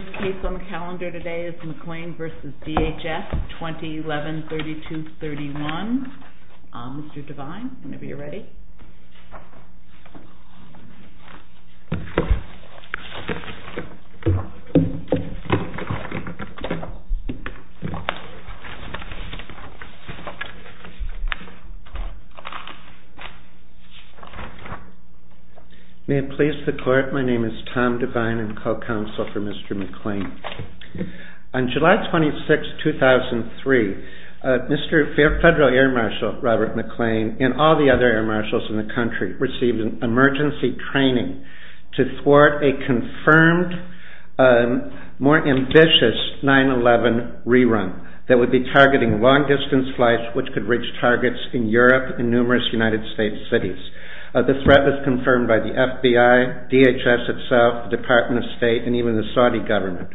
2011-32-31. Mr. Devine, whenever you're ready. May it please the court, my name is Tom Devine and co-counsel for Mr. McLean. On July 26, 2003, Mr. Federal Air Marshal Robert McLean and all the other air marshals in the country received emergency training to thwart a confirmed, more ambitious 9-11 rerun that would be targeting long-distance flights which could reach targets in Europe and numerous United States cities. The threat was confirmed by the FBI, DHS itself, the Department of State, and even the Saudi government.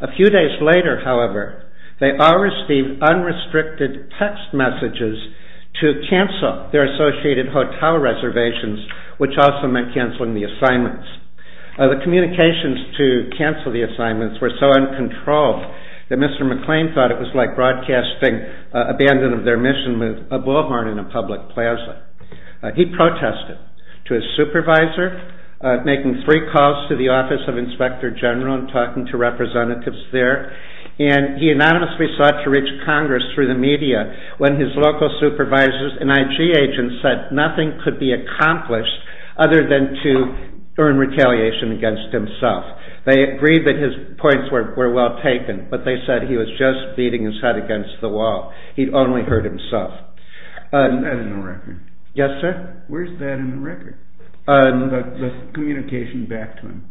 A few days later, however, they all received unrestricted text messages to their associated hotel reservations, which also meant canceling the assignments. The communications to cancel the assignments were so uncontrolled that Mr. McLean thought it was like broadcasting abandon of their mission with a bullhorn in a public plaza. He protested to his supervisor, making three calls to the Office of Inspector General and talking to representatives there, and he anonymously sought to reach Congress through the media when his local supervisors and IG agents said nothing could be accomplished other than to earn retaliation against himself. They agreed that his points were well taken, but they said he was just beating his head against the wall. He'd only hurt himself. Where's that in the record? Yes, sir? Where's that in the record, the communication back to him?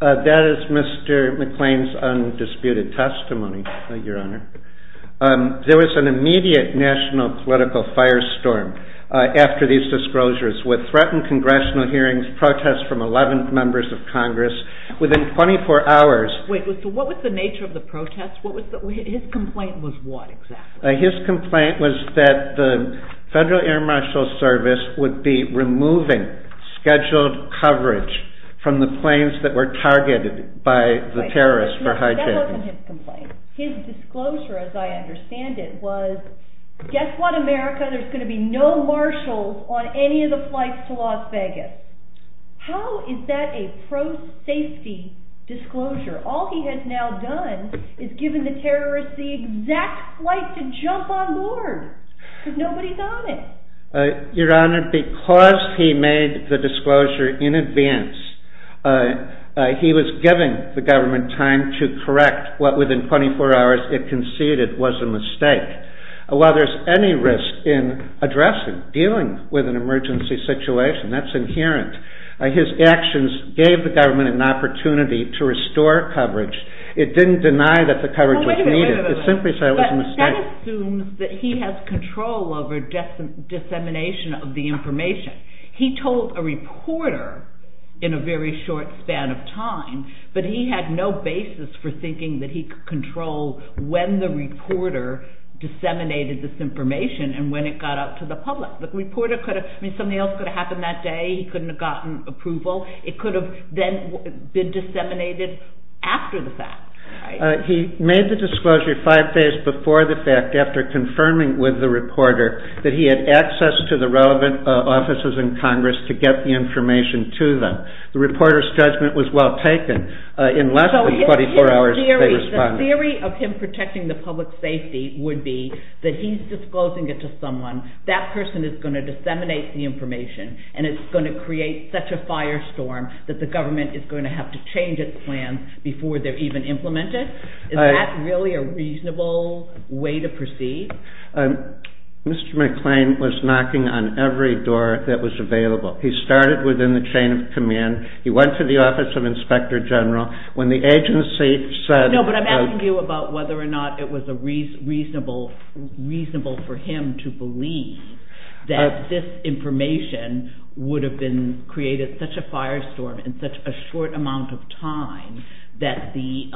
That is Mr. McLean's undisputed testimony, Your Honor. There was an immediate national political firestorm after these disclosures with threatened congressional hearings, protests from 11 members of Congress within 24 hours. Wait, so what was the nature of the protests? His complaint was what, exactly? His complaint was that the Federal Air Marshal Service would be removing scheduled coverage from the planes that were targeted by the terrorists for hijacking. That wasn't his complaint. His disclosure, as I understand it, was, guess what, America, there's going to be no marshals on any of the flights to Las Vegas. How is that a pro-safety disclosure? All he has now done is given the terrorists the exact flight to jump on board because nobody's on it. Your Honor, because he made the disclosure in advance, he was giving the government time to correct what within 24 hours it conceded was a mistake. While there's any risk in addressing, dealing with an emergency situation, that's inherent, his actions gave the government an opportunity to restore coverage. It didn't deny that the coverage was needed. That assumes that he has control over dissemination of the information. He told a reporter in a very short span of time, but he had no basis for thinking that he could control when the reporter disseminated this information and when it got out to the public. The reporter could have, I mean, something else could have happened that day, he couldn't have gotten approval, it could have then been disseminated after the fact. He made the disclosure five days before the fact after confirming with the reporter that he had access to the relevant offices in Congress to get the information to them. The reporter's judgment was well taken. In less than 24 hours, they responded. So his theory, the theory of him protecting the public safety would be that he's disclosing it to someone, that person is going to disseminate the information and it's going to create such a firestorm that the government is going to have to change its plans before they're even implemented? Is that really a reasonable way to proceed? Mr. McClain was knocking on every door that was available. He started within the chain of command, he went to the Office of Inspector General, when the agency said... No, but I'm asking you about whether or not it was reasonable for him to believe that this information would have created such a firestorm in such a short amount of time that the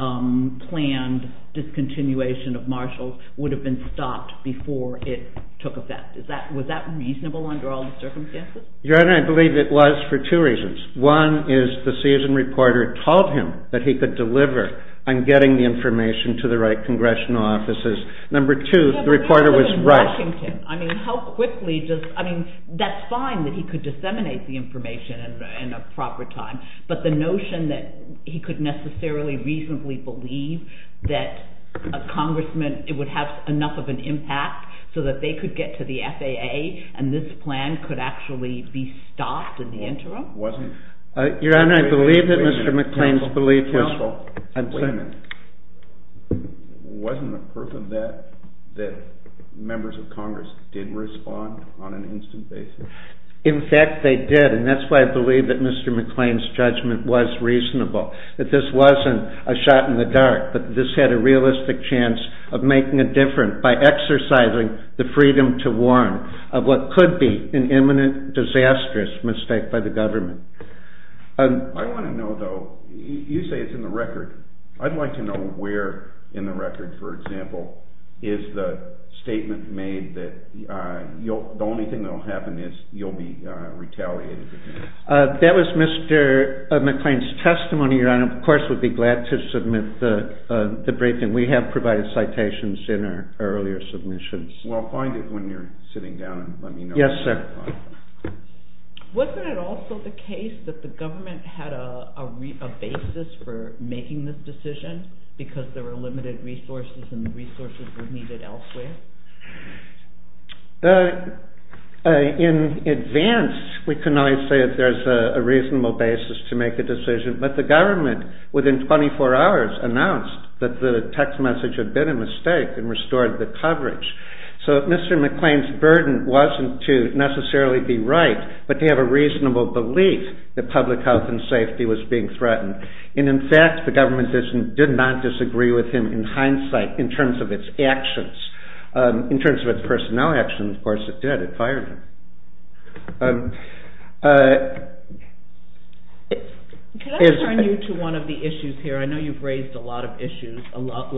planned discontinuation of Marshalls would have been stopped before it took effect. Was that reasonable under all the circumstances? Your Honor, I believe it was for two reasons. One is the seasoned reporter told him that he could deliver on getting the information to the right congressional offices. Number one, that's fine that he could disseminate the information in a proper time, but the notion that he could necessarily reasonably believe that a congressman, it would have enough of an impact so that they could get to the FAA and this plan could actually be stopped in the interim? Your Honor, I believe that Mr. McClain's belief... Wait a minute. Wasn't the proof of that, that members of Congress didn't respond on an instant basis? In fact, they did, and that's why I believe that Mr. McClain's judgment was reasonable. That this wasn't a shot in the dark, but this had a realistic chance of making a difference by exercising the freedom to warn of what could be an imminent disastrous mistake by the government. I want to know, though, you say it's in the record. I'd like to know where in the record, for example, is the statement made that the only thing that will happen is you'll be retaliated against? That was Mr. McClain's testimony, Your Honor. Of course, we'd be glad to submit the briefing. We have provided citations in our earlier submissions. Well, find it when you're sitting down and let me know. Yes, sir. Wasn't it also the case that the government had a basis for making this decision, because there were limited resources and resources were needed elsewhere? In advance, we can only say that there's a reasonable basis to make a decision, but the government, within 24 hours, announced that the text message had been a mistake and restored the coverage. So, Mr. McClain's burden wasn't to necessarily be right, but to have a reasonable belief that public health and safety was being threatened. And, in fact, the government did not disagree with him in hindsight in terms of its actions. In terms of its personnel actions, of course, it did. It fired him. Can I turn you to one of the issues here? I know you've raised a lot of issues, a lot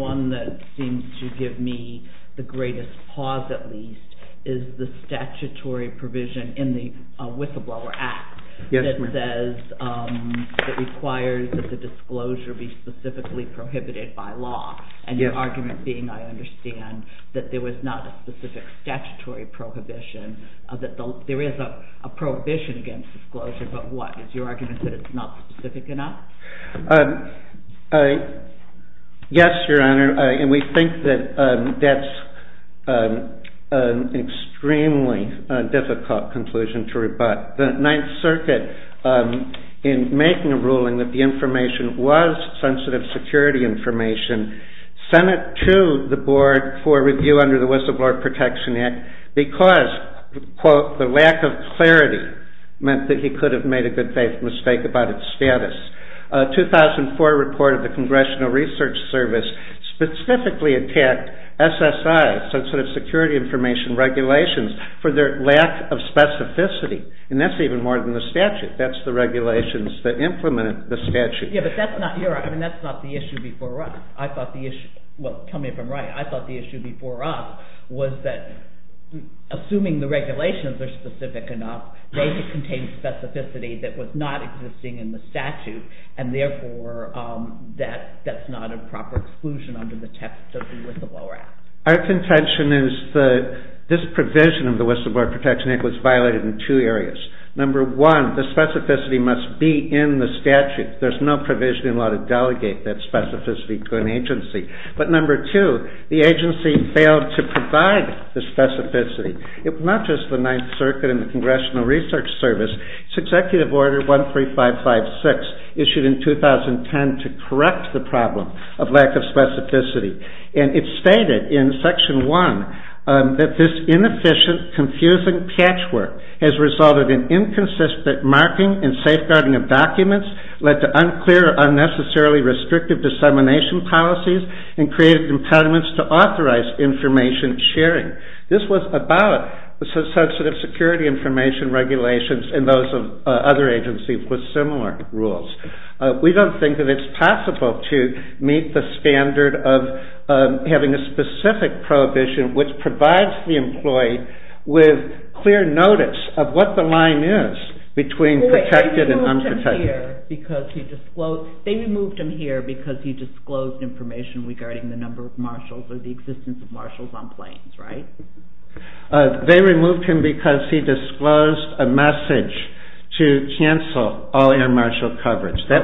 One that seems to give me the greatest pause, at least, is the statutory provision in the Whistleblower Act that says, that requires that the disclosure be specifically prohibited by law. And your argument being, I understand, that there was not a specific statutory prohibition, that there is a prohibition against disclosure, but what? Is your argument that it's not specific enough? Yes, Your Honor, and we think that that's an extremely difficult conclusion to rebut. The Ninth Circuit, in making a ruling that the information was sensitive security information, sent it to the board for review under the Whistleblower Protection Act because, quote, the lack of clarity meant that he could have made a good faith mistake about its status. A 2004 report of the Congressional Research Service specifically attacked SSI, sensitive security information regulations, for their lack of specificity. And that's even more than the statute. That's the regulations that implemented the statute. Yeah, but that's not your argument. That's not the issue before us. I thought the issue, well, tell me if I'm right. I thought the issue before us was that, assuming the regulations are specific enough, they should contain specificity that was not existing in the statute, and therefore that's not a proper exclusion under the text of the Whistleblower Act. Our contention is that this provision of the Whistleblower Protection Act was violated in two areas. Number one, the specificity must be in the statute. There's no provision in law to delegate that specificity to an agency. But number two, the agency failed to provide the specificity. It's not just the Ninth Circuit and the Congressional Research Service. It's Executive Order 13556, issued in 2010, to correct the problem of lack of specificity. And it's stated in Section 1 that this inefficient, confusing patchwork has resulted in inconsistent marking and safeguarding of documents, led to unclear or unnecessarily restrictive dissemination policies, and created impediments to authorized information sharing. This was about sensitive security information regulations and those of other agencies with similar rules. We don't think that it's possible to meet the standard of having a specific prohibition which provides the employee with clear notice of what the line is between protected and unprotected. They removed him here because he disclosed information regarding the number of marshals or the existence of marshals on planes, right? They removed him because he disclosed a message to cancel all air marshal coverage. So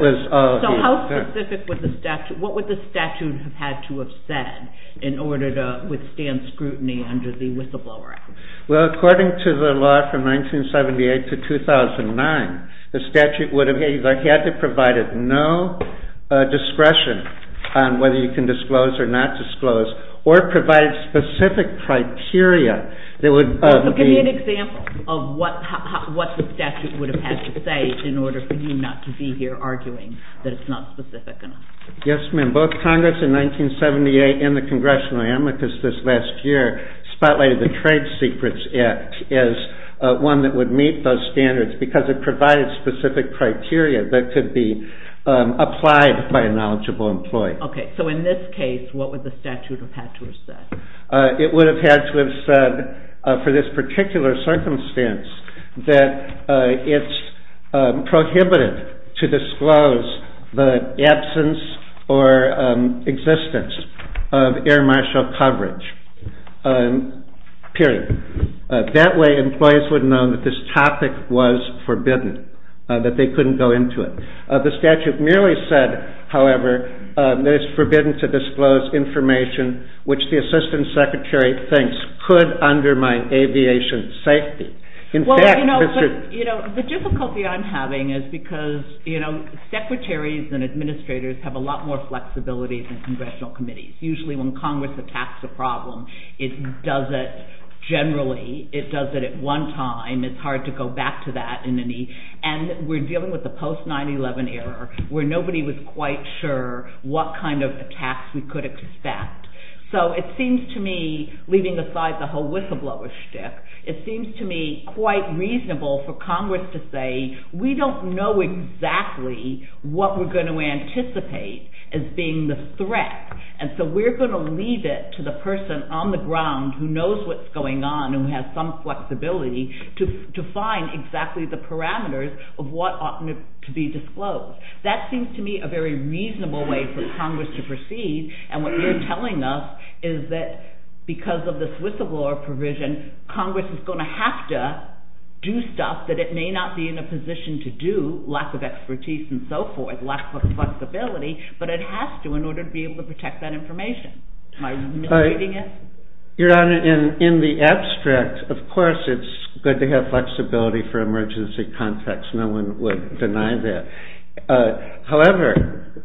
what would the statute have had to have said in order to withstand scrutiny under the Whistleblower Act? Well, according to the law from 1978 to 2009, the statute would have either had to have provided no discretion on whether you can disclose or not disclose, or provide specific criteria that would be... Give me an example of what the statute would have had to say in order for you not to be here arguing that it's not specific enough. Yes, ma'am. Both Congress in 1978 and the Congressional Amicus this last year spotlighted the Trade Secrets Act as one that would meet those standards because it provided specific criteria that could be applied by a knowledgeable employee. Okay, so in this case, what would the statute have had to have said? It would have had to have said for this particular circumstance that it's prohibited to disclose the absence or existence of air marshal coverage, period. That way employees would know that this topic was forbidden, that they couldn't go into it. The statute merely said, however, that it's forbidden to disclose information which the Assistant Secretary thinks could undermine aviation safety. The difficulty I'm having is because secretaries and administrators have a lot more flexibility than congressional committees. Usually when Congress attacks a problem, it does it generally, it does it at one time. It's hard to go back to that. And we're dealing with the post-9-11 era where nobody was quite sure what kind of attacks we could expect. So it seems to me, leaving aside the whole whistleblower schtick, it seems to me quite reasonable for Congress to say, we don't know exactly what we're going to anticipate as being the threat. And so we're going to leave it to the person on the ground who knows what's going on and has some flexibility to find exactly the parameters of what ought to be disclosed. That seems to me a very reasonable way for Congress to proceed. And what you're telling us is that because of the whistleblower provision, Congress is going to have to do stuff that it may not be in a position to do, lack of expertise and so forth, lack of flexibility, but it has to in order to be able to protect that information. Am I misleading you? Your Honor, in the abstract, of course it's good to have flexibility for emergency contacts. No one would deny that. However,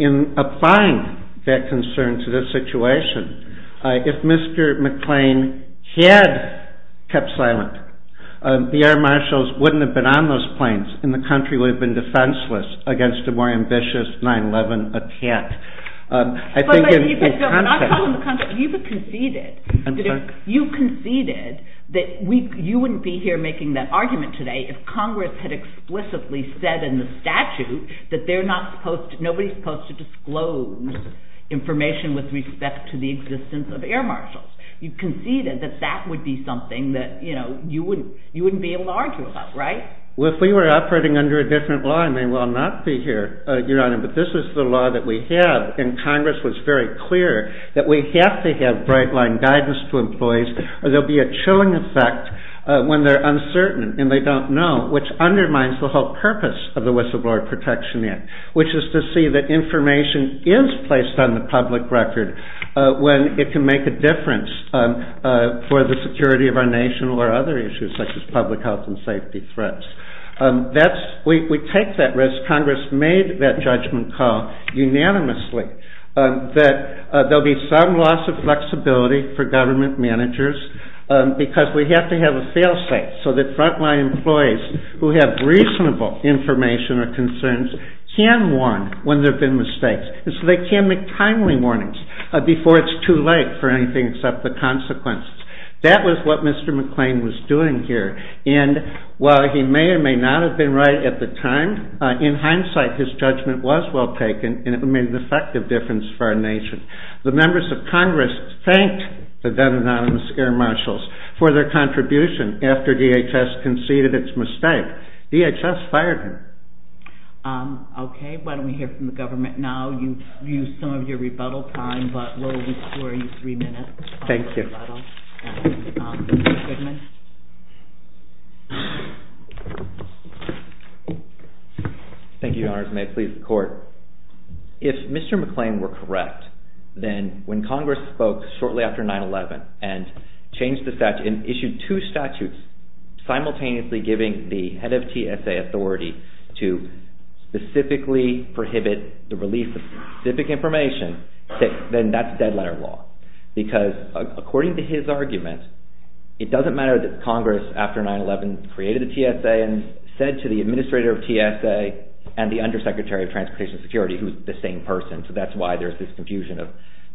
in applying that concern to this situation, if Mr. McClain had kept silent, the air marshals wouldn't have been on those planes and the country would have been defenseless against a more ambitious 9-11 attack. But I'm talking about the context. You conceded that you wouldn't be here making that argument today if Congress had explicitly said in the statute that nobody is supposed to disclose information with respect to the existence of air marshals. You conceded that that would be something that you wouldn't be able to argue about, right? Well, if we were operating under a different law, I may well not be here, Your Honor, but this is the law that we have, and Congress was very clear that we have to have bright-line guidance to employees or there will be a chilling effect when they're uncertain and they don't know, which undermines the whole purpose of the Whistleblower Protection Act, which is to see that information is placed on the public record when it can make a difference for the security of our nation or other issues such as public health and safety threats. We take that risk. Congress made that judgment call unanimously that there will be some loss of flexibility for government managers because we have to have a fail-safe so that front-line employees who have reasonable information or concerns can warn when there have been mistakes, and so they can make timely warnings before it's too late for anything except the consequences. That was what Mr. McClain was doing here, and while he may or may not have been right at the time, in hindsight his judgment was well taken, and it made an effective difference for our nation. The members of Congress thanked the then-Anonymous Air Marshals for their contribution after DHS conceded its mistake. DHS fired him. Okay, why don't we hear from the government now. You've used some of your rebuttal time, but we'll restore you three minutes. Thank you. Mr. Goodman. Thank you, Your Honors, and may it please the Court. If Mr. McClain were correct, then when Congress spoke shortly after 9-11 and issued two statutes simultaneously giving the head of TSA authority to specifically prohibit the release of specific information, then that's dead-letter law because, according to his argument, it doesn't matter that Congress, after 9-11, created the TSA and said to the Administrator of TSA and the Undersecretary of Transportation Security, who's the same person, so that's why there's this confusion of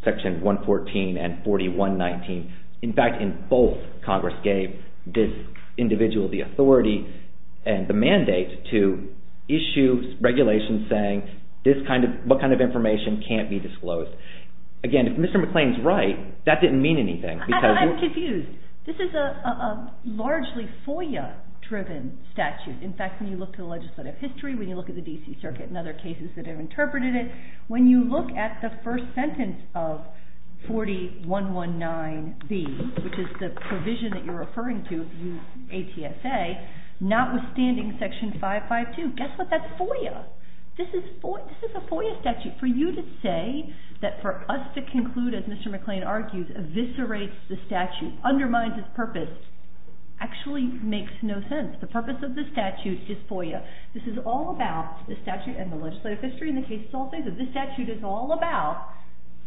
Section 114 and 4119. In fact, in both, Congress gave this individual the authority and the mandate to issue regulations saying what kind of information can't be disclosed. Again, if Mr. McClain's right, that didn't mean anything. I'm confused. This is a largely FOIA-driven statute. In fact, when you look at the legislative history, when you look at the D.C. Circuit and other cases that have interpreted it, when you look at the first sentence of 4119B, which is the provision that you're referring to, ATSA, notwithstanding Section 552, guess what? That's FOIA. This is a FOIA statute for you to say that for us to conclude, as Mr. McClain argues, eviscerates the statute, undermines its purpose, actually makes no sense. The purpose of the statute is FOIA. This is all about the statute and the legislative history and the case itself. This statute is all about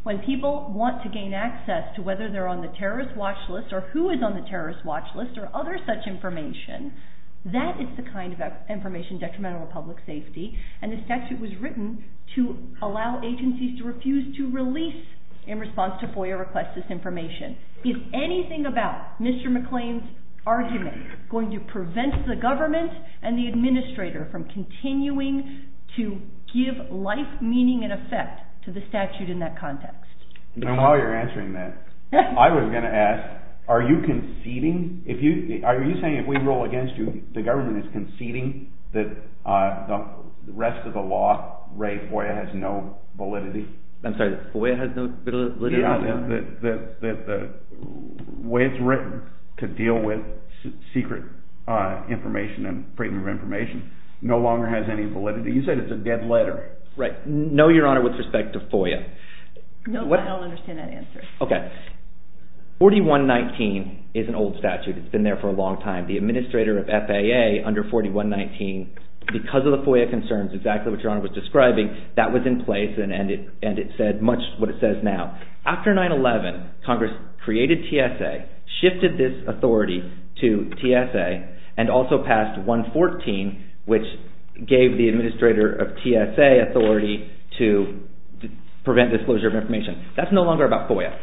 when people want to gain access to whether they're on the terrorist watch list or who is on the terrorist watch list or other such information, that is the kind of information detrimental to public safety, and the statute was written to allow agencies to refuse to release, in response to FOIA requests, this information. Is anything about Mr. McClain's argument going to prevent the government and the administrator from continuing to give life, meaning, and effect to the statute in that context? And while you're answering that, I was going to ask, are you conceding? Are you saying if we roll against you, the government is conceding that the rest of the law, Ray, FOIA has no validity? I'm sorry, the FOIA has no validity? Yeah, the way it's written to deal with secret information and freedom of information no longer has any validity. You said it's a dead letter. Right. No, Your Honor, with respect to FOIA. No, I don't understand that answer. Okay. 4119 is an old statute. It's been there for a long time. The administrator of FAA under 4119, because of the FOIA concerns, exactly what Your Honor was describing, that was in place, and it said much what it says now. After 9-11, Congress created TSA, shifted this authority to TSA, and also passed 114, which gave the administrator of TSA authority to prevent disclosure of information. That's no longer about FOIA.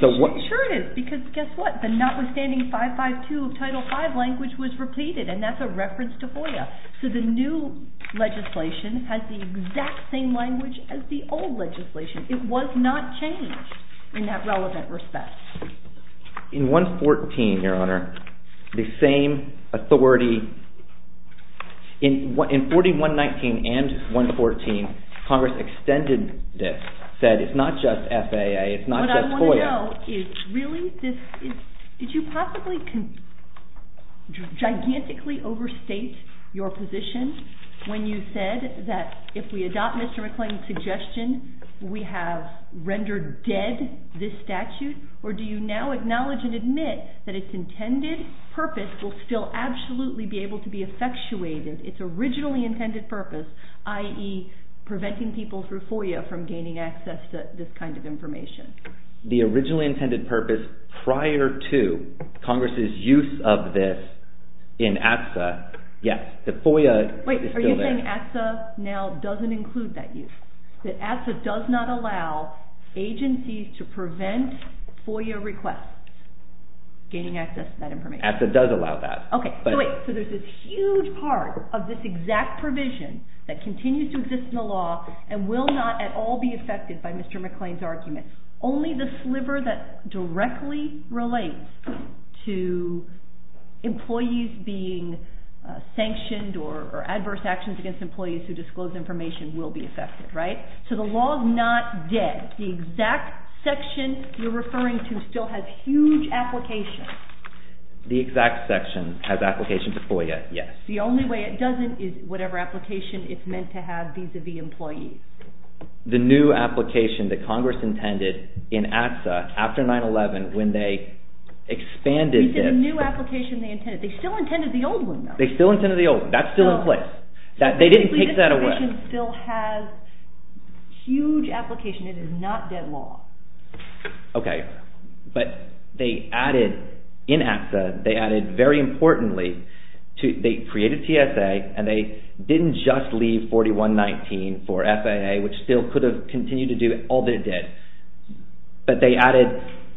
Sure it is, because guess what? The notwithstanding 552 of Title V language was repeated, and that's a reference to FOIA. So the new legislation has the exact same language as the old legislation. It was not changed in that relevant respect. In 114, Your Honor, the same authority, in 4119 and 114, Congress extended this, said it's not just FAA, it's not just FOIA. Did you possibly gigantically overstate your position when you said that if we adopt Mr. McClain's suggestion, we have rendered dead this statute? Or do you now acknowledge and admit that its intended purpose will still absolutely be able to be effectuated, its originally intended purpose, i.e., preventing people through FOIA from gaining access to this kind of information? The originally intended purpose prior to Congress' use of this in ATSA, yes, the FOIA is still there. Wait, are you saying ATSA now doesn't include that use? That ATSA does not allow agencies to prevent FOIA requests, gaining access to that information? ATSA does allow that. Okay, so wait, so there's this huge part of this exact provision that continues to exist in the law and will not at all be affected by Mr. McClain's argument. Only the sliver that directly relates to employees being sanctioned or adverse actions against employees who disclose information will be affected, right? So the law is not dead. The exact section you're referring to still has huge application. The exact section has application to FOIA, yes. The only way it doesn't is whatever application it's meant to have vis-à-vis employees. The new application that Congress intended in ATSA after 9-11 when they expanded this... You said the new application they intended. They still intended the old one, though. They still intended the old one. That's still in place. They didn't take that away. The new application still has huge application. It is not dead law. Okay, but they added in ATSA, they added very importantly, they created TSA and they didn't just leave 4119 for FAA, which still could have continued to do all that it did. But they added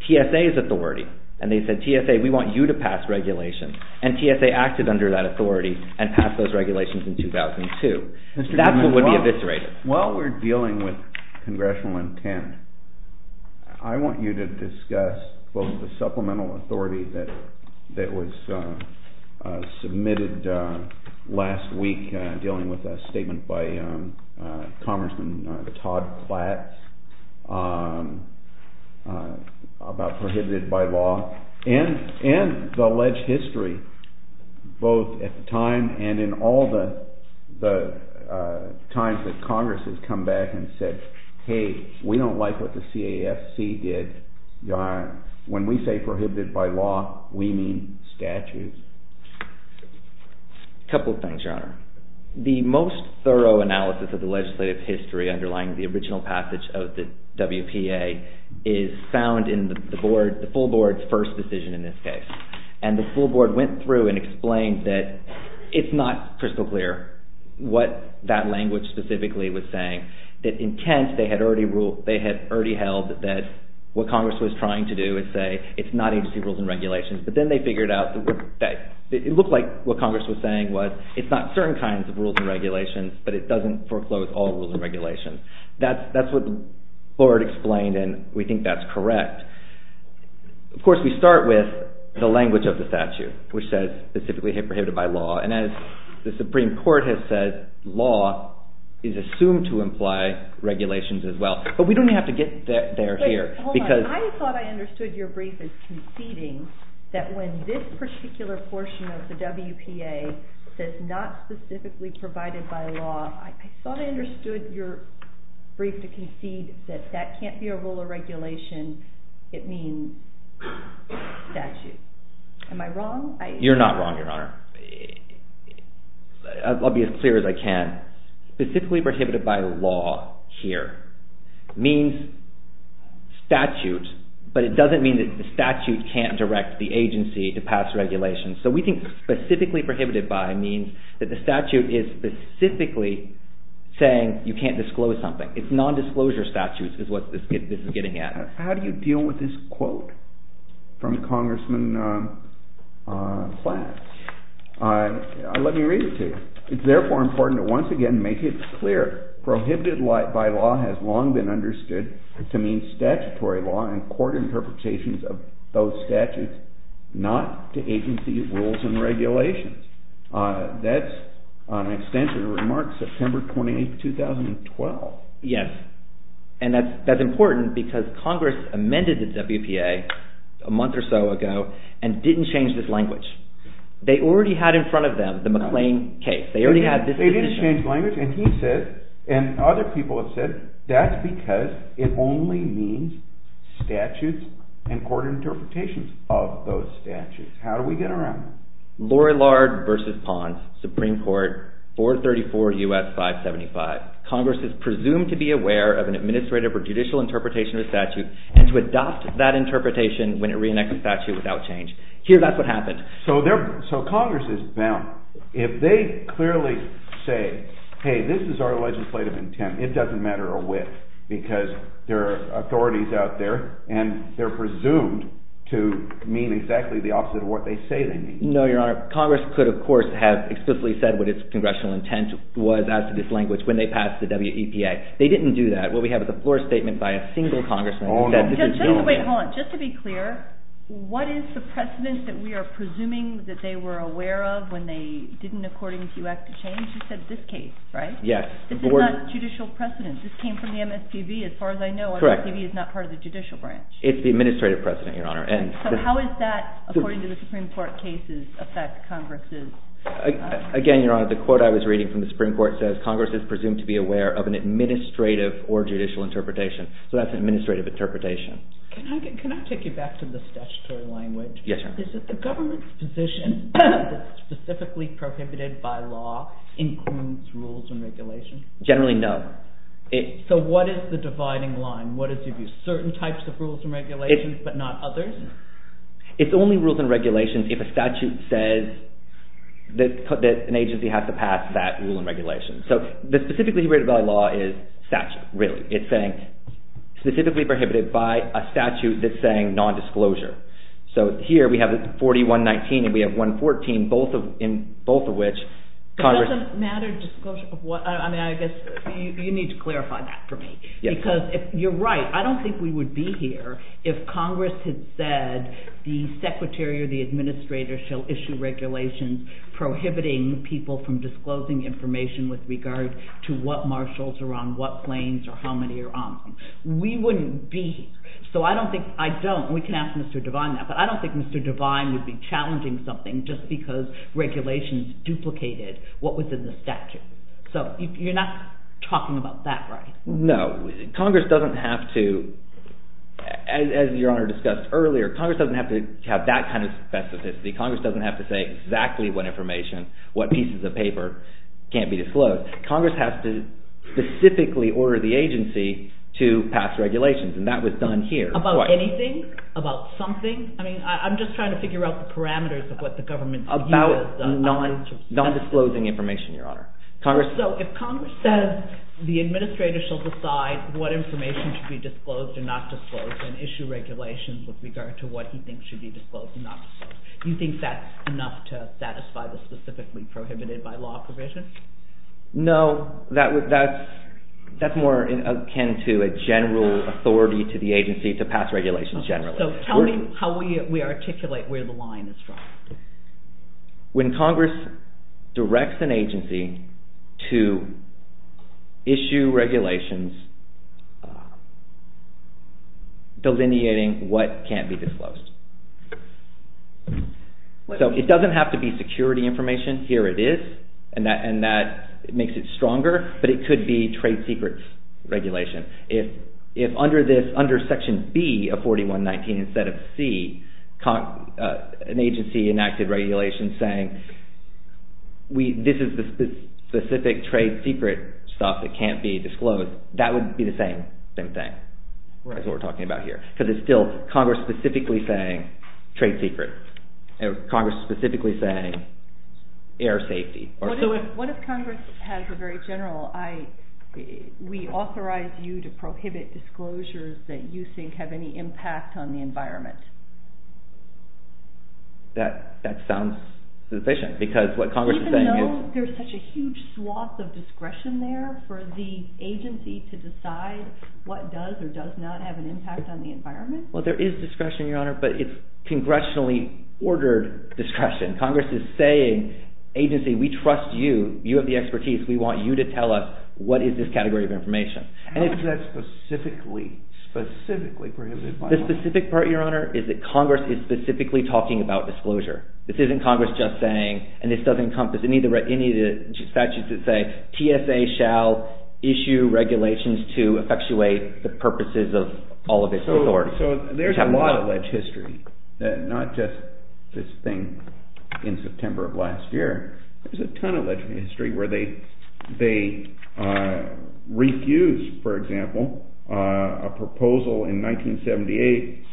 TSA's authority and they said, TSA, we want you to pass regulation. And TSA acted under that authority and passed those regulations in 2002. That's what would be eviscerated. While we're dealing with congressional intent, I want you to discuss both the supplemental authority that was submitted last week dealing with a statement by Congressman Todd Platt about prohibited by law and the alleged history both at the time and in all the times that Congress has come back and said, hey, we don't like what the CAFC did. When we say prohibited by law, we mean statutes. A couple of things, Your Honor. The most thorough analysis of the legislative history underlying the original passage of the WPA is found in the full board's first decision in this case. And the full board went through and explained that it's not crystal clear what that language specifically was saying, that in Kent they had already held that what Congress was trying to do is say it's not agency rules and regulations, but then they figured out that it looked like what Congress was saying was it's not certain kinds of rules and regulations, but it doesn't foreclose all rules and regulations. That's what the board explained, and we think that's correct. Of course, we start with the language of the statute, which says specifically prohibited by law. And as the Supreme Court has said, law is assumed to imply regulations as well. But we don't have to get there here. I thought I understood your brief as conceding that when this particular portion of the WPA says not specifically provided by law, I thought I understood your brief to concede that that can't be a rule or regulation, it means statute. Am I wrong? You're not wrong, Your Honor. I'll be as clear as I can. Specifically prohibited by law here means statute, but it doesn't mean that the statute can't direct the agency to pass regulations. So we think specifically prohibited by means that the statute is specifically saying you can't disclose something. It's nondisclosure statutes is what this is getting at. How do you deal with this quote from Congressman Flatt? Let me read it to you. It's therefore important to once again make it clear prohibited by law has long been understood to mean statutory law and court interpretations of those statutes, not to agency rules and regulations. That's an extensive remark, September 28, 2012. Yes, and that's important because Congress amended the WPA a month or so ago and didn't change this language. They already had in front of them the McLean case. They already had this position. They didn't change language, and he said, and other people have said, that's because it only means statutes and court interpretations of those statutes. How do we get around that? Lorillard v. Ponce, Supreme Court, 434 U.S. 575. Congress is presumed to be aware of an administrative or judicial interpretation of a statute and to adopt that interpretation when it re-enacts a statute without change. Here, that's what happened. So Congress is bound. If they clearly say, hey, this is our legislative intent, it doesn't matter a whit because there are authorities out there and they're presumed to mean exactly the opposite of what they say they mean. No, Your Honor. Congress could, of course, have explicitly said what its congressional intent was as to this language when they passed the WEPA. They didn't do that. What we have is a floor statement by a single congressman. Oh, no. Wait, hold on. Just to be clear, what is the precedent that we are presuming that they were aware of when they didn't, according to you, act to change? You said this case, right? Yes. This is not judicial precedent. This came from the MSPB, as far as I know. Correct. The MSPB is not part of the judicial branch. It's the administrative precedent, Your Honor. So how does that, according to the Supreme Court cases, affect Congress? Again, Your Honor, the quote I was reading from the Supreme Court says, Congress is presumed to be aware of an administrative or judicial interpretation. So that's an administrative interpretation. Can I take you back to the statutory language? Yes, Your Honor. Is it the government's position that specifically prohibited by law includes rules and regulations? Generally, no. So what is the dividing line? What is it if you have certain types of rules and regulations but not others? It's only rules and regulations if a statute says that an agency has to pass that rule and regulation. So the specifically prohibited by law is statute, really. It's saying specifically prohibited by a statute that's saying non-disclosure. So here we have 4119 and we have 114, both of which Congress… It doesn't matter disclosure of what… I mean, I guess you need to clarify that for me. Because you're right. I don't think we would be here if Congress had said the secretary or the administrator shall issue regulations prohibiting people from disclosing information with regard to what marshals are on what planes or how many are on them. We wouldn't be here. So I don't think… I don't. We can ask Mr. Devine that. But I don't think Mr. Devine would be challenging something just because regulations duplicated what was in the statute. So you're not talking about that, right? No. Congress doesn't have to, as Your Honor discussed earlier, Congress doesn't have to have that kind of specificity. Congress doesn't have to say exactly what information, what pieces of paper can't be disclosed. Congress has to specifically order the agency to pass regulations, and that was done here. About anything? About something? I mean, I'm just trying to figure out the parameters of what the government's view is. About non-disclosing information, Your Honor. So if Congress says the administrator shall decide what information should be disclosed and not disclosed and issue regulations with regard to what he thinks should be disclosed and not disclosed, you think that's enough to satisfy the specifically prohibited by law provision? No, that's more akin to a general authority to the agency to pass regulations generally. So tell me how we articulate where the line is from. When Congress directs an agency to issue regulations delineating what can't be disclosed. So it doesn't have to be security information. Here it is, and that makes it stronger, but it could be trade secrets regulation. If under Section B of 4119 instead of C, an agency enacted regulations saying this is the specific trade secret stuff that can't be disclosed, that would be the same thing. That's what we're talking about here. Because it's still Congress specifically saying trade secret. Congress specifically saying air safety. What if Congress has a very general, we authorize you to prohibit disclosures that you think have any impact on the environment? That sounds sufficient because what Congress is saying is... Even though there's such a huge swath of discretion there for the agency to decide what does or does not have an impact on the environment? Well, there is discretion, Your Honor, but it's congressionally ordered discretion. Congress is saying, agency, we trust you. You have the expertise. We want you to tell us what is this category of information. How is that specifically prohibited by law? The specific part, Your Honor, is that Congress is specifically talking about disclosure. This isn't Congress just saying, and this doesn't encompass any of the statutes that say TSA shall issue regulations to effectuate the purposes of all of its authority. So there's a lot of history, not just this thing in September of last year. There's a ton of history where they refused, for example, a proposal in 1978.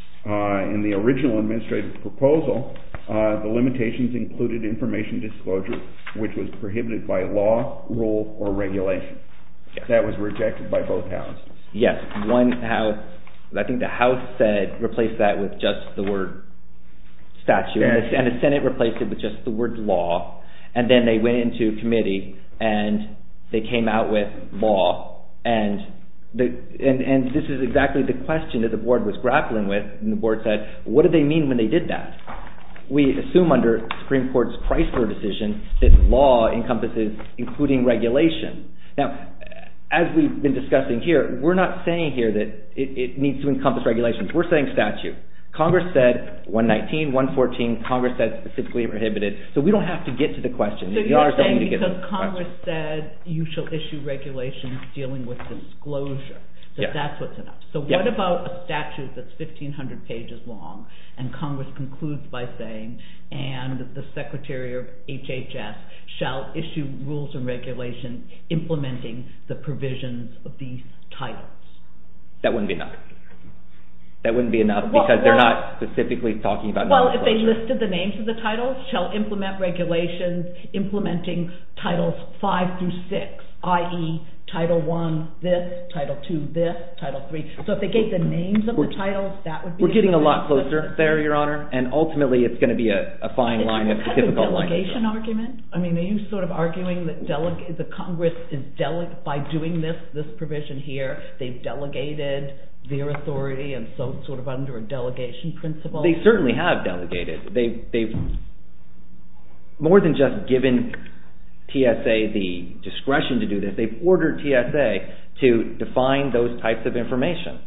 In the original administrative proposal, the limitations included information disclosure, which was prohibited by law, rule, or regulation. That was rejected by both houses. Yes. I think the House replaced that with just the word statute, and the Senate replaced it with just the word law, and then they went into committee, and they came out with law, and this is exactly the question that the board was grappling with, and the board said, what did they mean when they did that? We assume under Supreme Court's Chrysler decision that law encompasses including regulation. Now, as we've been discussing here, we're not saying here that it needs to encompass regulations. We're saying statute. Congress said 119, 114. Congress said specifically prohibited. So we don't have to get to the question. So you're saying because Congress said you shall issue regulations dealing with disclosure, that that's what's enough. So what about a statute that's 1,500 pages long, and Congress concludes by saying, and the Secretary of HHS shall issue rules and regulations implementing the provisions of these titles. That wouldn't be enough. That wouldn't be enough because they're not specifically talking about disclosure. Well, if they listed the names of the titles, shall implement regulations implementing titles 5 through 6, i.e., Title I, this, Title II, this, Title III. So if they gave the names of the titles, that would be enough. We're getting a lot closer there, Your Honor, and ultimately it's going to be a fine line. It's kind of a delegation argument. I mean, are you sort of arguing that Congress, by doing this provision here, they've delegated their authority and so it's sort of under a delegation principle? They certainly have delegated. They've more than just given TSA the discretion to do this. They've ordered TSA to define those types of information.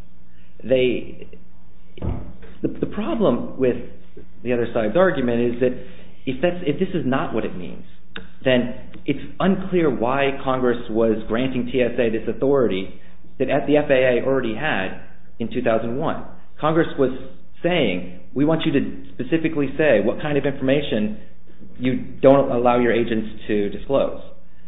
The problem with the other side's argument is that if this is not what it means, then it's unclear why Congress was granting TSA this authority that the FAA already had in 2001. Congress was saying, we want you to specifically say what kind of information you don't allow your agents to disclose,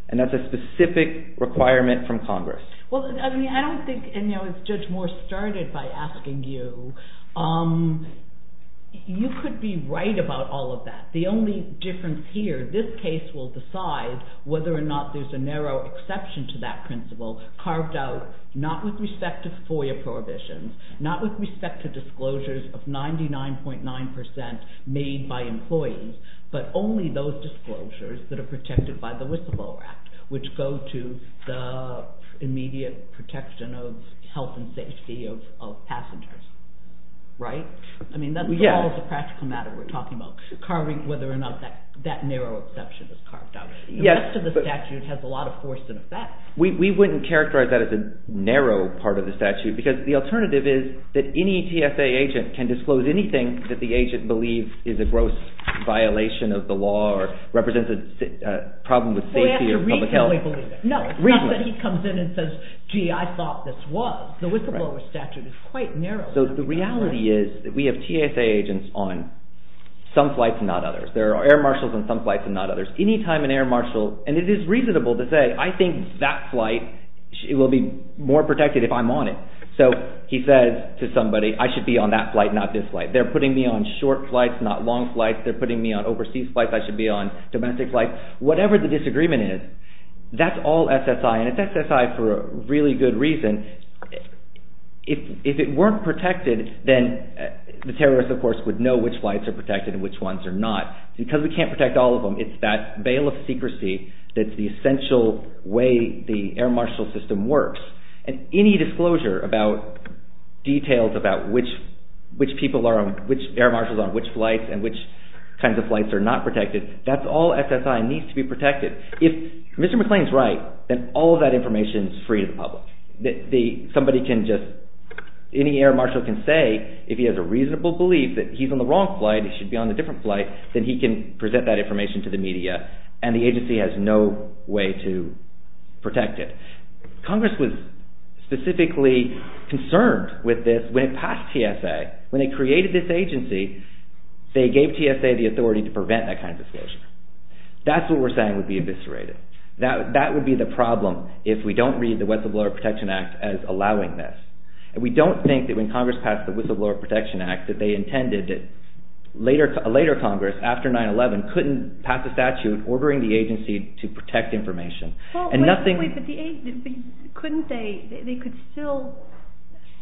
and that's a specific requirement from Congress. Well, I don't think, and Judge Moore started by asking you, you could be right about all of that. The only difference here, this case will decide whether or not there's a narrow exception to that principle carved out not with respect to FOIA prohibitions, not with respect to disclosures of 99.9% made by employees, but only those disclosures that are protected by the Whistleblower Act, which go to the immediate protection of health and safety of passengers. Right? I mean, that's all the practical matter we're talking about, carving whether or not that narrow exception is carved out. The rest of the statute has a lot of force and effect. We wouldn't characterize that as a narrow part of the statute because the alternative is that any TSA agent can disclose anything that the agent believes is a gross violation of the law or represents a problem with safety or public health. We have to reasonably believe it. No, it's not that he comes in and says, gee, I thought this was. The whistleblower statute is quite narrow. So the reality is that we have TSA agents on some flights and not others. There are air marshals on some flights and not others. Any time an air marshal, and it is reasonable to say, I think that flight will be more protected if I'm on it. So he says to somebody, I should be on that flight, not this flight. They're putting me on short flights, not long flights. They're putting me on overseas flights. I should be on domestic flights, whatever the disagreement is. That's all SSI, and it's SSI for a really good reason. If it weren't protected, then the terrorist, of course, would know which flights are protected and which ones are not. Because we can't protect all of them, it's that veil of secrecy that's the essential way the air marshal system works. And any disclosure about details about which air marshals are on which flights and which kinds of flights are not protected, that's all SSI needs to be protected. If Mr. McClain's right, then all of that information is free to the public. Somebody can just, any air marshal can say, if he has a reasonable belief that he's on the wrong flight, he should be on a different flight, then he can present that information to the media and the agency has no way to protect it. Congress was specifically concerned with this when it passed TSA. When they created this agency, they gave TSA the authority to prevent that kind of disclosure. That's what we're saying would be eviscerated. That would be the problem if we don't read the Whistleblower Protection Act as allowing this. And we don't think that when Congress passed the Whistleblower Protection Act that they intended that later Congress, after 9-11, couldn't pass a statute ordering the agency to protect information. But couldn't they, they could still,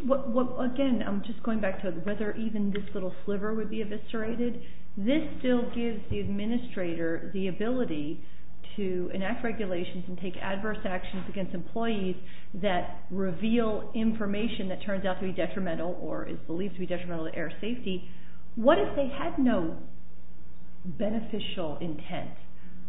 again I'm just going back to whether even this little sliver would be eviscerated. This still gives the administrator the ability to enact regulations and take adverse actions against employees that reveal information that turns out to be detrimental or is believed to be detrimental to air safety. What if they had no beneficial intent?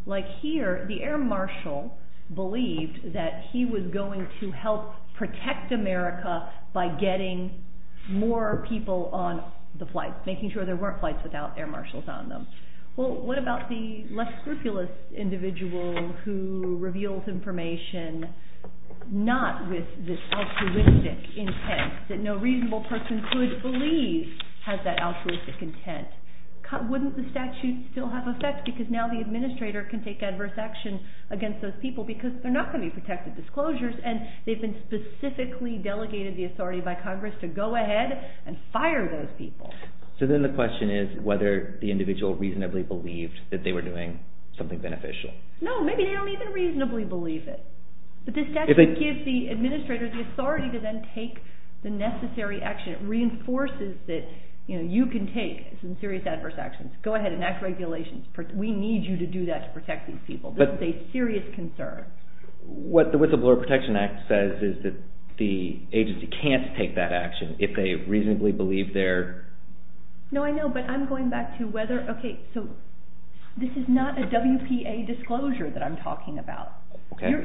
Like here, the air marshal believed that he was going to help protect America by getting more people on the flight, making sure there weren't flights without air marshals on them. Well, what about the less scrupulous individual who reveals information not with this altruistic intent that no reasonable person could believe has that altruistic intent? Wouldn't the statute still have effect because now the administrator can take adverse action against those people because they're not going to be protected disclosures and they've been specifically delegated the authority by Congress to go ahead and fire those people. So then the question is whether the individual reasonably believed that they were doing something beneficial. No, maybe they don't even reasonably believe it. But the statute gives the administrator the authority to then take the necessary action. It reinforces that you can take some serious adverse actions. Go ahead, enact regulations. We need you to do that to protect these people. This is a serious concern. What the Whistleblower Protection Act says is that the agency can't take that action if they reasonably believe their... No, I know, but I'm going back to whether... Okay, so this is not a WPA disclosure that I'm talking about.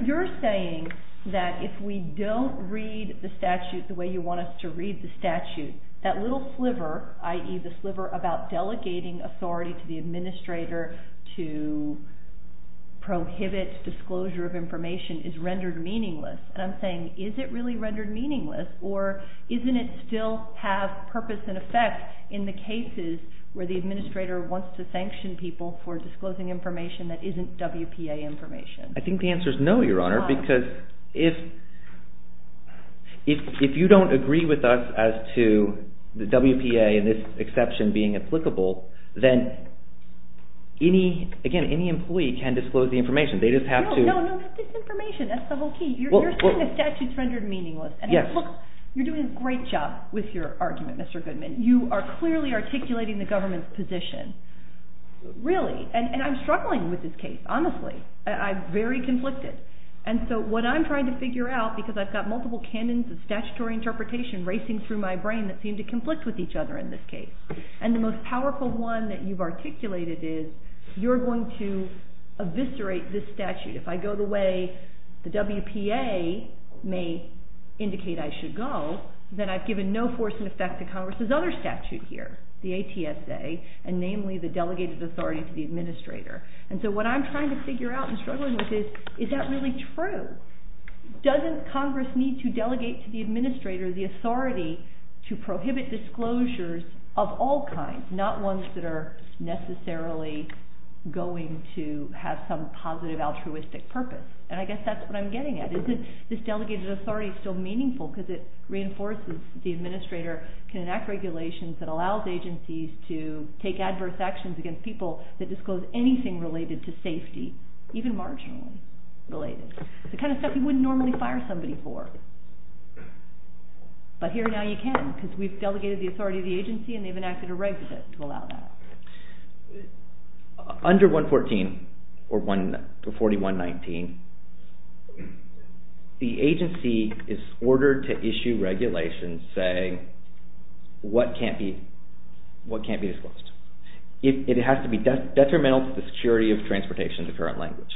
You're saying that if we don't read the statute the way you want us to read the statute, that little sliver, i.e., the sliver about delegating authority to the administrator to prohibit disclosure of information is rendered meaningless. And I'm saying, is it really rendered meaningless or doesn't it still have purpose and effect in the cases where the administrator wants to sanction people for disclosing information that isn't WPA information? I think the answer is no, Your Honor, because if you don't agree with us as to the WPA and this exception being applicable, then, again, any employee can disclose the information. They just have to... No, no, no, that's disinformation. That's the whole key. You're saying the statute's rendered meaningless. Look, you're doing a great job with your argument, Mr. Goodman. You are clearly articulating the government's position. Really, and I'm struggling with this case, honestly. I'm very conflicted. And so what I'm trying to figure out, because I've got multiple canons of statutory interpretation racing through my brain that seem to conflict with each other in this case, and the most powerful one that you've articulated is you're going to eviscerate this statute. If I go the way the WPA may indicate I should go, then I've given no force and effect to Congress's other statute here, the ATSA, and namely the delegated authority to the administrator. And so what I'm trying to figure out and struggling with is, is that really true? Doesn't Congress need to delegate to the administrator the authority to prohibit disclosures of all kinds, not ones that are necessarily going to have some positive altruistic purpose? And I guess that's what I'm getting at. Is this delegated authority still meaningful because it reinforces the administrator can enact regulations that allows agencies to take adverse actions against people that disclose anything related to safety, even marginally related? The kind of stuff you wouldn't normally fire somebody for. But here now you can because we've delegated the authority to the agency and they've enacted a reg to allow that. Under 114 or 4119, the agency is ordered to issue regulations saying what can't be disclosed. It has to be detrimental to the security of transportation in the current language.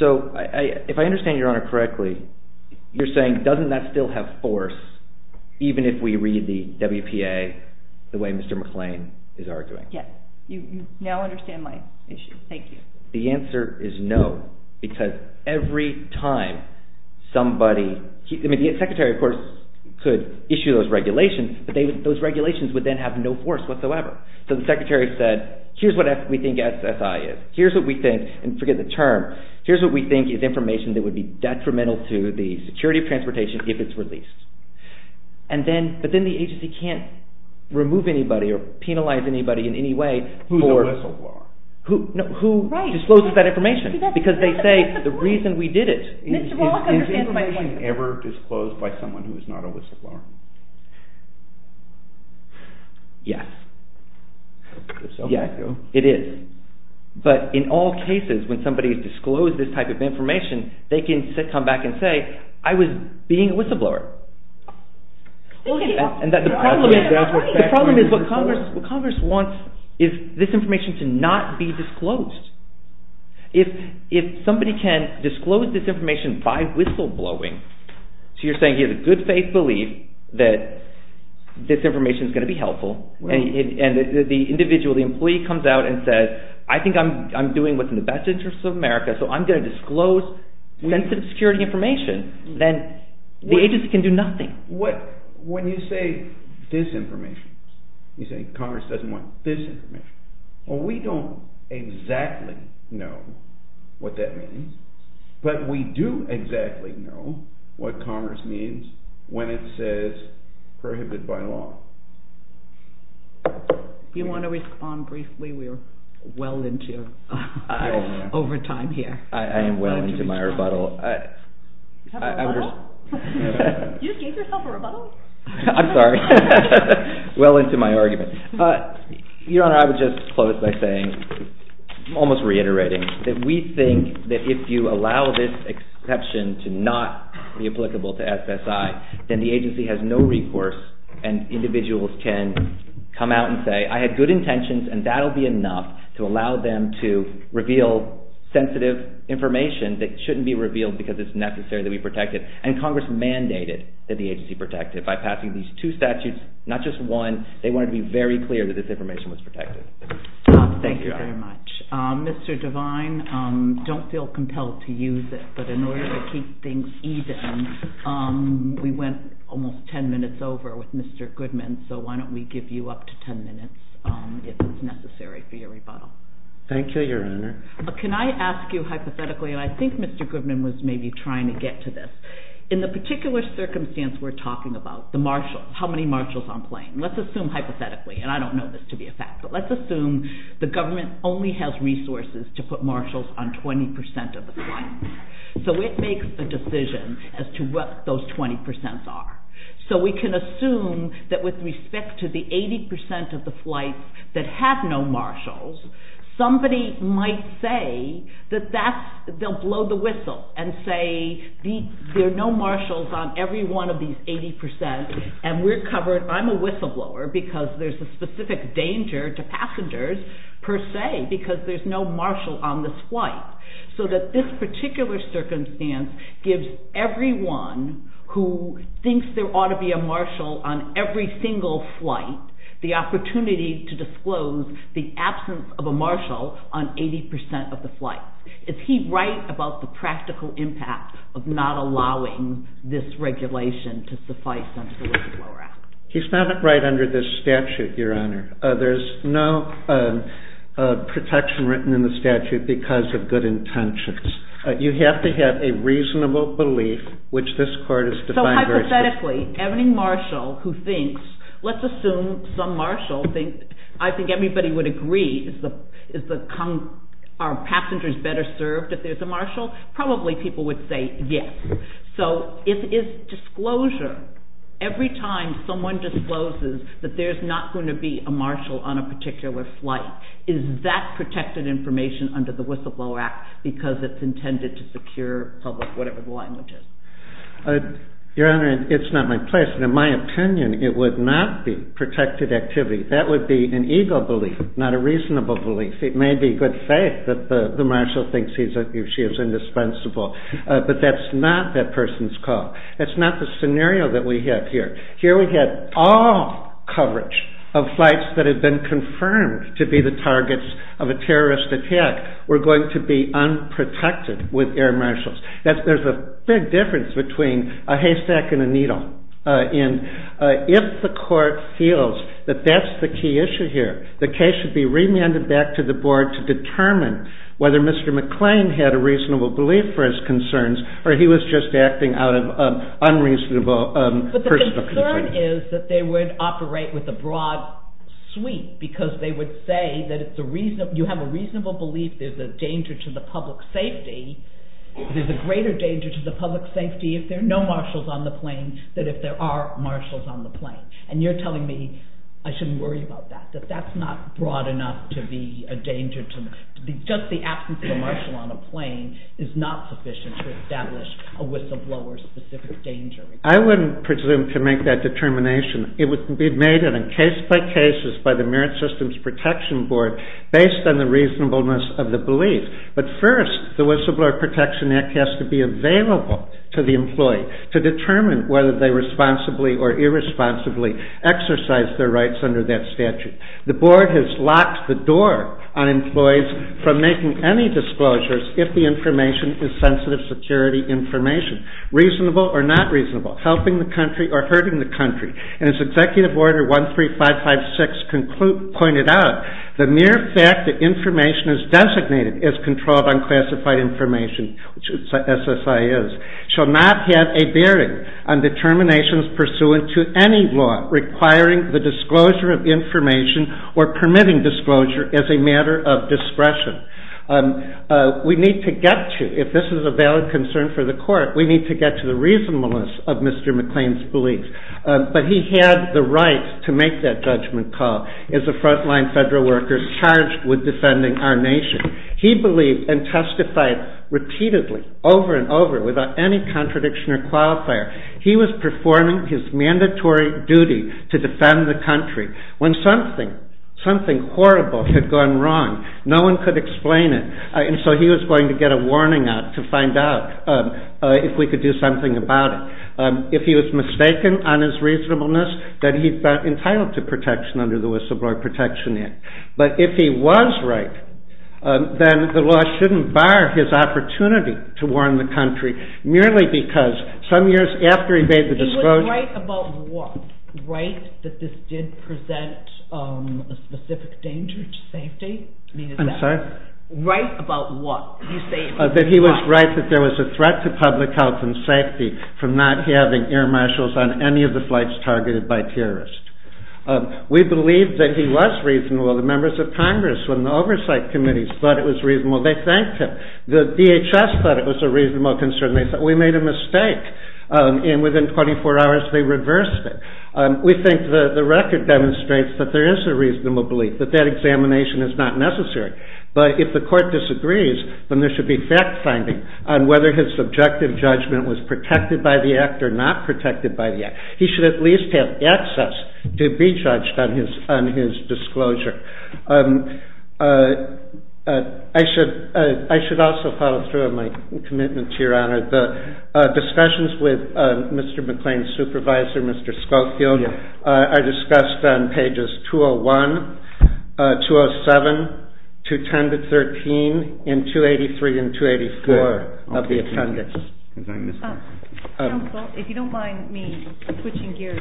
So if I understand Your Honor correctly, you're saying doesn't that still have force even if we read the WPA the way Mr. McLean is arguing? Yes. You now understand my issue. Thank you. The answer is no because every time somebody, I mean the secretary of course could issue those regulations, but those regulations would then have no force whatsoever. So the secretary said here's what we think SSI is. Here's what we think, and forget the term, here's what we think is information that would be detrimental to the security of transportation if it's released. But then the agency can't remove anybody or penalize anybody in any way. Who's a whistleblower? Who discloses that information because they say the reason we did it. Is information ever disclosed by someone who is not a whistleblower? Yes. It is. But in all cases when somebody has disclosed this type of information, they can come back and say I was being a whistleblower. The problem is what Congress wants is this information to not be disclosed. If somebody can disclose this information by whistleblowing, so you're saying he has a good faith belief that this information is going to be helpful, and the individual, the employee comes out and says, I think I'm doing what's in the best interest of America, so I'm going to disclose sensitive security information, then the agency can do nothing. When you say this information, you say Congress doesn't want this information. Well, we don't exactly know what that means, but we do exactly know what Congress means when it says prohibited by law. Do you want to respond briefly? We're well into overtime here. I am well into my rebuttal. You have a rebuttal? You just gave yourself a rebuttal? I'm sorry. Well into my argument. Your Honor, I would just close by saying, almost reiterating, that we think that if you allow this exception to not be applicable to SSI, then the agency has no recourse and individuals can come out and say, I had good intentions and that will be enough to allow them to reveal sensitive information that shouldn't be revealed because it's necessary that we protect it, and Congress mandated that the agency protect it by passing these two statutes, not just one. They wanted to be very clear that this information was protected. Thank you very much. Mr. Devine, don't feel compelled to use it, but in order to keep things even, we went almost ten minutes over with Mr. Goodman, so why don't we give you up to ten minutes if it's necessary for your rebuttal. Thank you, Your Honor. Can I ask you hypothetically, and I think Mr. Goodman was maybe trying to get to this. In the particular circumstance we're talking about, the marshals, how many marshals on plane, let's assume hypothetically, and I don't know this to be a fact, but let's assume the government only has resources to put marshals on 20% of the flight. So it makes a decision as to what those 20% are. So we can assume that with respect to the 80% of the flights that have no marshals, somebody might say that they'll blow the whistle and say, there are no marshals on every one of these 80%, and we're covered. I'm a whistleblower because there's a specific danger to passengers per se because there's no marshal on this flight. So that this particular circumstance gives everyone who thinks there ought to be a marshal on every single flight the opportunity to disclose the absence of a marshal on 80% of the flight. Is he right about the practical impact of not allowing this regulation to suffice under the whistleblower act? He's not right under this statute, Your Honor. There's no protection written in the statute because of good intentions. You have to have a reasonable belief, which this court has defined very specifically. Any marshal who thinks, let's assume some marshal, I think everybody would agree, are passengers better served if there's a marshal? Probably people would say yes. So if it's disclosure, every time someone discloses that there's not going to be a marshal on a particular flight, is that protected information under the whistleblower act because it's intended to secure public whatever the language is? Your Honor, it's not my place, and in my opinion, it would not be protected activity. That would be an ego belief, not a reasonable belief. It may be good faith that the marshal thinks she is indispensable, but that's not that person's call. That's not the scenario that we have here. Here we have all coverage of flights that have been confirmed to be the targets of a terrorist attack were going to be unprotected with air marshals. There's a big difference between a haystack and a needle. If the court feels that that's the key issue here, the case should be remanded back to the board to determine whether Mr. McClain had a reasonable belief for his concerns or he was just acting out of unreasonable personal concern. But the concern is that they would operate with a broad sweep because they would say that you have a reasonable belief there's a danger to the public safety, there's a greater danger to the public safety if there are no marshals on the plane than if there are marshals on the plane. And you're telling me I shouldn't worry about that, that that's not broad enough to be a danger to me. Just the absence of a marshal on a plane is not sufficient to establish a whistleblower's specific danger. I wouldn't presume to make that determination. It would be made in case-by-cases by the Merit Systems Protection Board based on the reasonableness of the belief. But first, the Whistleblower Protection Act has to be available to the employee to determine whether they responsibly or irresponsibly exercise their rights under that statute. The board has locked the door on employees from making any disclosures if the information is sensitive security information, reasonable or not reasonable, helping the country or hurting the country. And as Executive Order 13556 pointed out, the mere fact that information is designated as controlled unclassified information, which SSI is, shall not have a bearing on determinations pursuant to any law requiring the disclosure of information or permitting disclosure as a matter of discretion. We need to get to, if this is a valid concern for the court, we need to get to the reasonableness of Mr. McLean's beliefs. But he had the right to make that judgment call as a front-line federal worker charged with defending our nation. He believed and testified repeatedly, over and over, without any contradiction or qualifier. He was performing his mandatory duty to defend the country. When something horrible had gone wrong, no one could explain it. And so he was going to get a warning out to find out if we could do something about it. If he was mistaken on his reasonableness, then he'd be entitled to protection under the Whistleblower Protection Act. But if he was right, then the law shouldn't bar his opportunity to warn the country, merely because some years after he made the disclosure... He was right about what? Right that this did present a specific danger to safety? I'm sorry? Right about what? That he was right that there was a threat to public health and safety from not having air marshals on any of the flights targeted by terrorists. We believe that he was reasonable. The members of Congress and the oversight committees thought it was reasonable. They thanked him. The DHS thought it was a reasonable concern. They said, we made a mistake. And within 24 hours, they reversed it. We think the record demonstrates that there is a reasonable belief, that that examination is not necessary. But if the court disagrees, then there should be fact-finding on whether his subjective judgment was protected by the act or not protected by the act. He should at least have access to be judged on his disclosure. I should also follow through on my commitment to Your Honor. The discussions with Mr. McLean's supervisor, Mr. Schofield, are discussed on pages 201, 207, 210-13, and 283 and 284 of the attendance. Counsel, if you don't mind me switching gears,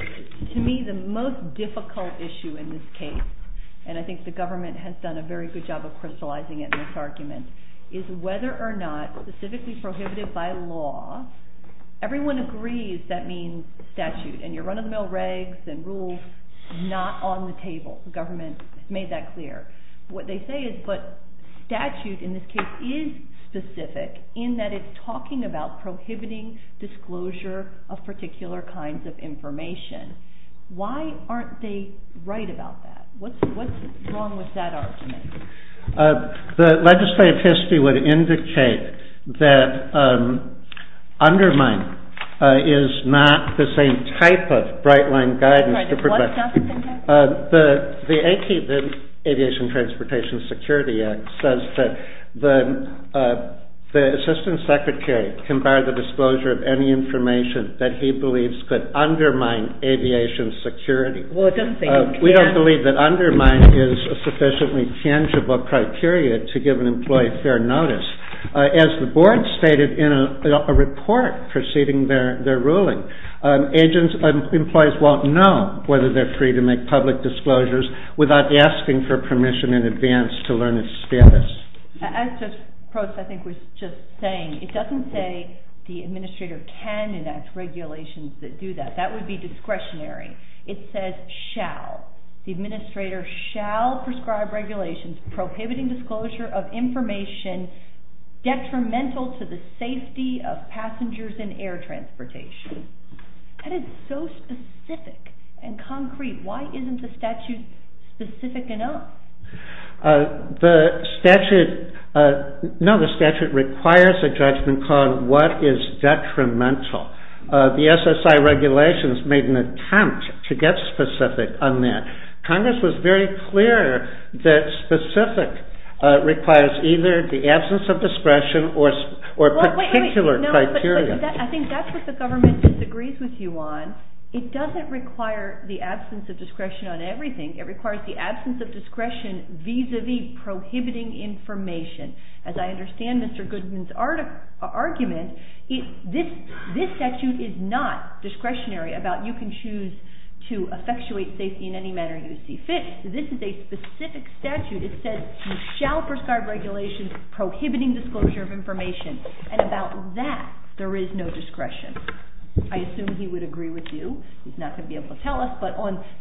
to me the most difficult issue in this case, and I think the government has done a very good job of crystallizing it in this argument, is whether or not specifically prohibited by law, everyone agrees that means statute. And your run-of-the-mill regs and rules, not on the table. The government has made that clear. What they say is, but statute in this case is specific, in that it's talking about prohibiting disclosure of particular kinds of information. Why aren't they right about that? What's wrong with that argument? The legislative history would indicate that undermine is not the same type of bright-line guidance. The Aviation Transportation Security Act says that the assistant secretary can bar the disclosure of any information that he believes could undermine aviation security. We don't believe that undermine is a sufficiently tangible criteria to give an employee fair notice. As the board stated in a report preceding their ruling, employees won't know whether they're free to make public disclosures without asking for permission in advance to learn its status. As Judge Probst, I think, was just saying, it doesn't say the administrator can enact regulations that do that. That would be discretionary. It says, shall. The administrator shall prescribe regulations prohibiting disclosure of information detrimental to the safety of passengers in air transportation. That is so specific and concrete. Why isn't the statute specific enough? The statute requires a judgment on what is detrimental. The SSI regulations made an attempt to get specific on that. Congress was very clear that specific requires either the absence of discretion or particular criteria. I think that's what the government disagrees with you on. It doesn't require the absence of discretion on everything. It requires the absence of discretion vis-à-vis prohibiting information. As I understand Mr. Goodman's argument, this statute is not discretionary about you can choose to effectuate safety in any manner you see fit. This is a specific statute. It says you shall prescribe regulations prohibiting disclosure of information. About that, there is no discretion. I assume he would agree with you. He's not going to be able to tell us.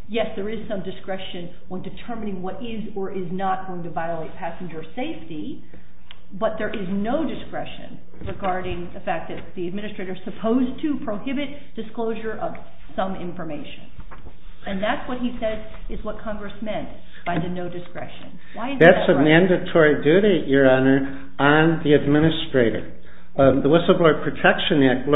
Yes, there is some discretion on determining what is or is not going to violate passenger safety, but there is no discretion regarding the fact that the administrator is supposed to prohibit disclosure of some information. And that's what he says is what Congress meant by the no discretion. That's a mandatory duty, Your Honor, on the administrator. The Whistleblower Protection Act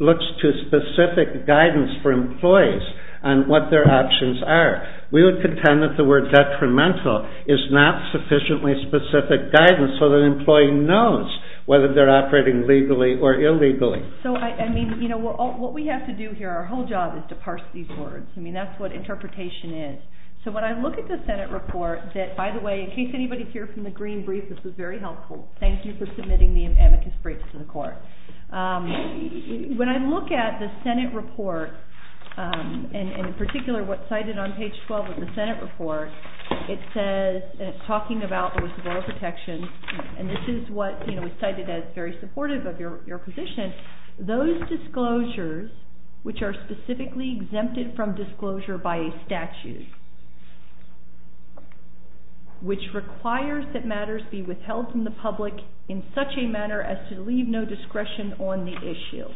looks to specific guidance for employees on what their options are. We would contend that the word detrimental is not sufficiently specific guidance so that an employee knows whether they're operating legally or illegally. So, I mean, you know, what we have to do here, our whole job is to parse these words. I mean, that's what interpretation is. So when I look at the Senate report that, by the way, in case anybody's here from the Green Brief, this is very helpful. Thank you for submitting the amicus briefs to the Court. When I look at the Senate report, and in particular what's cited on page 12 of the Senate report, it says, and it's talking about the whistleblower protection, and this is what, you know, is cited as very supportive of your position, those disclosures which are specifically exempted from disclosure by a statute, which requires that matters be withheld from the public in such a manner as to leave no discretion on the issue.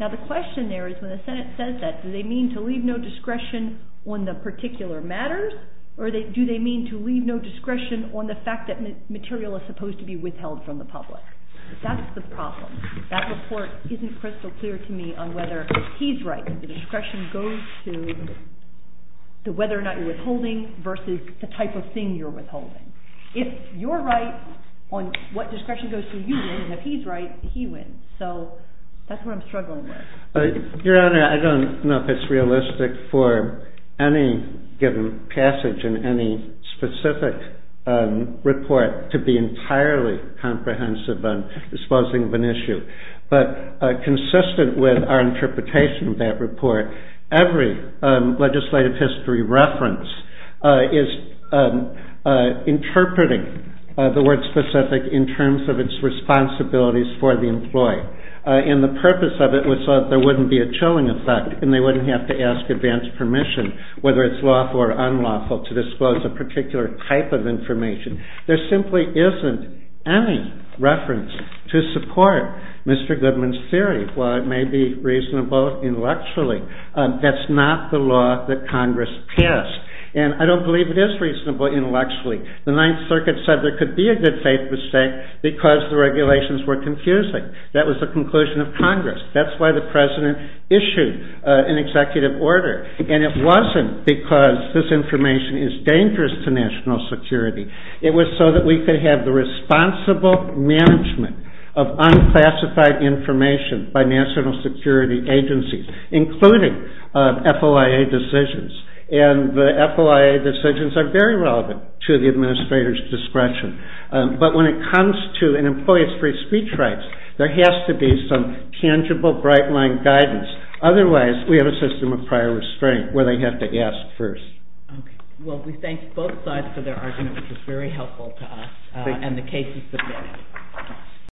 Now, the question there is when the Senate says that, do they mean to leave no discretion on the particular matters, or do they mean to leave no discretion on the fact that material is supposed to be withheld from the public? That's the problem. That report isn't crystal clear to me on whether he's right if the discretion goes to whether or not you're withholding versus the type of thing you're withholding. If you're right on what discretion goes to you, and if he's right, he wins. So that's what I'm struggling with. Your Honor, I don't know if it's realistic for any given passage in any specific report to be entirely comprehensive on disposing of an issue. But consistent with our interpretation of that report, every legislative history reference is interpreting the word specific in terms of its responsibilities for the employee. And the purpose of it was so that there wouldn't be a chilling effect and they wouldn't have to ask advance permission, whether it's lawful or unlawful, to disclose a particular type of information. There simply isn't any reference to support Mr. Goodman's theory. While it may be reasonable intellectually, that's not the law that Congress passed. And I don't believe it is reasonable intellectually. The Ninth Circuit said there could be a good faith mistake because the regulations were confusing. That was the conclusion of Congress. That's why the President issued an executive order. And it wasn't because this information is dangerous to national security. It was so that we could have the responsible management of unclassified information by national security agencies, including FOIA decisions. And the FOIA decisions are very relevant to the administrator's discretion. But when it comes to an employee's free speech rights, there has to be some tangible, bright-line guidance. Otherwise, we have a system of prior restraint where they have to ask first. Well, we thank both sides for their argument, which was very helpful to us. And the case is submitted.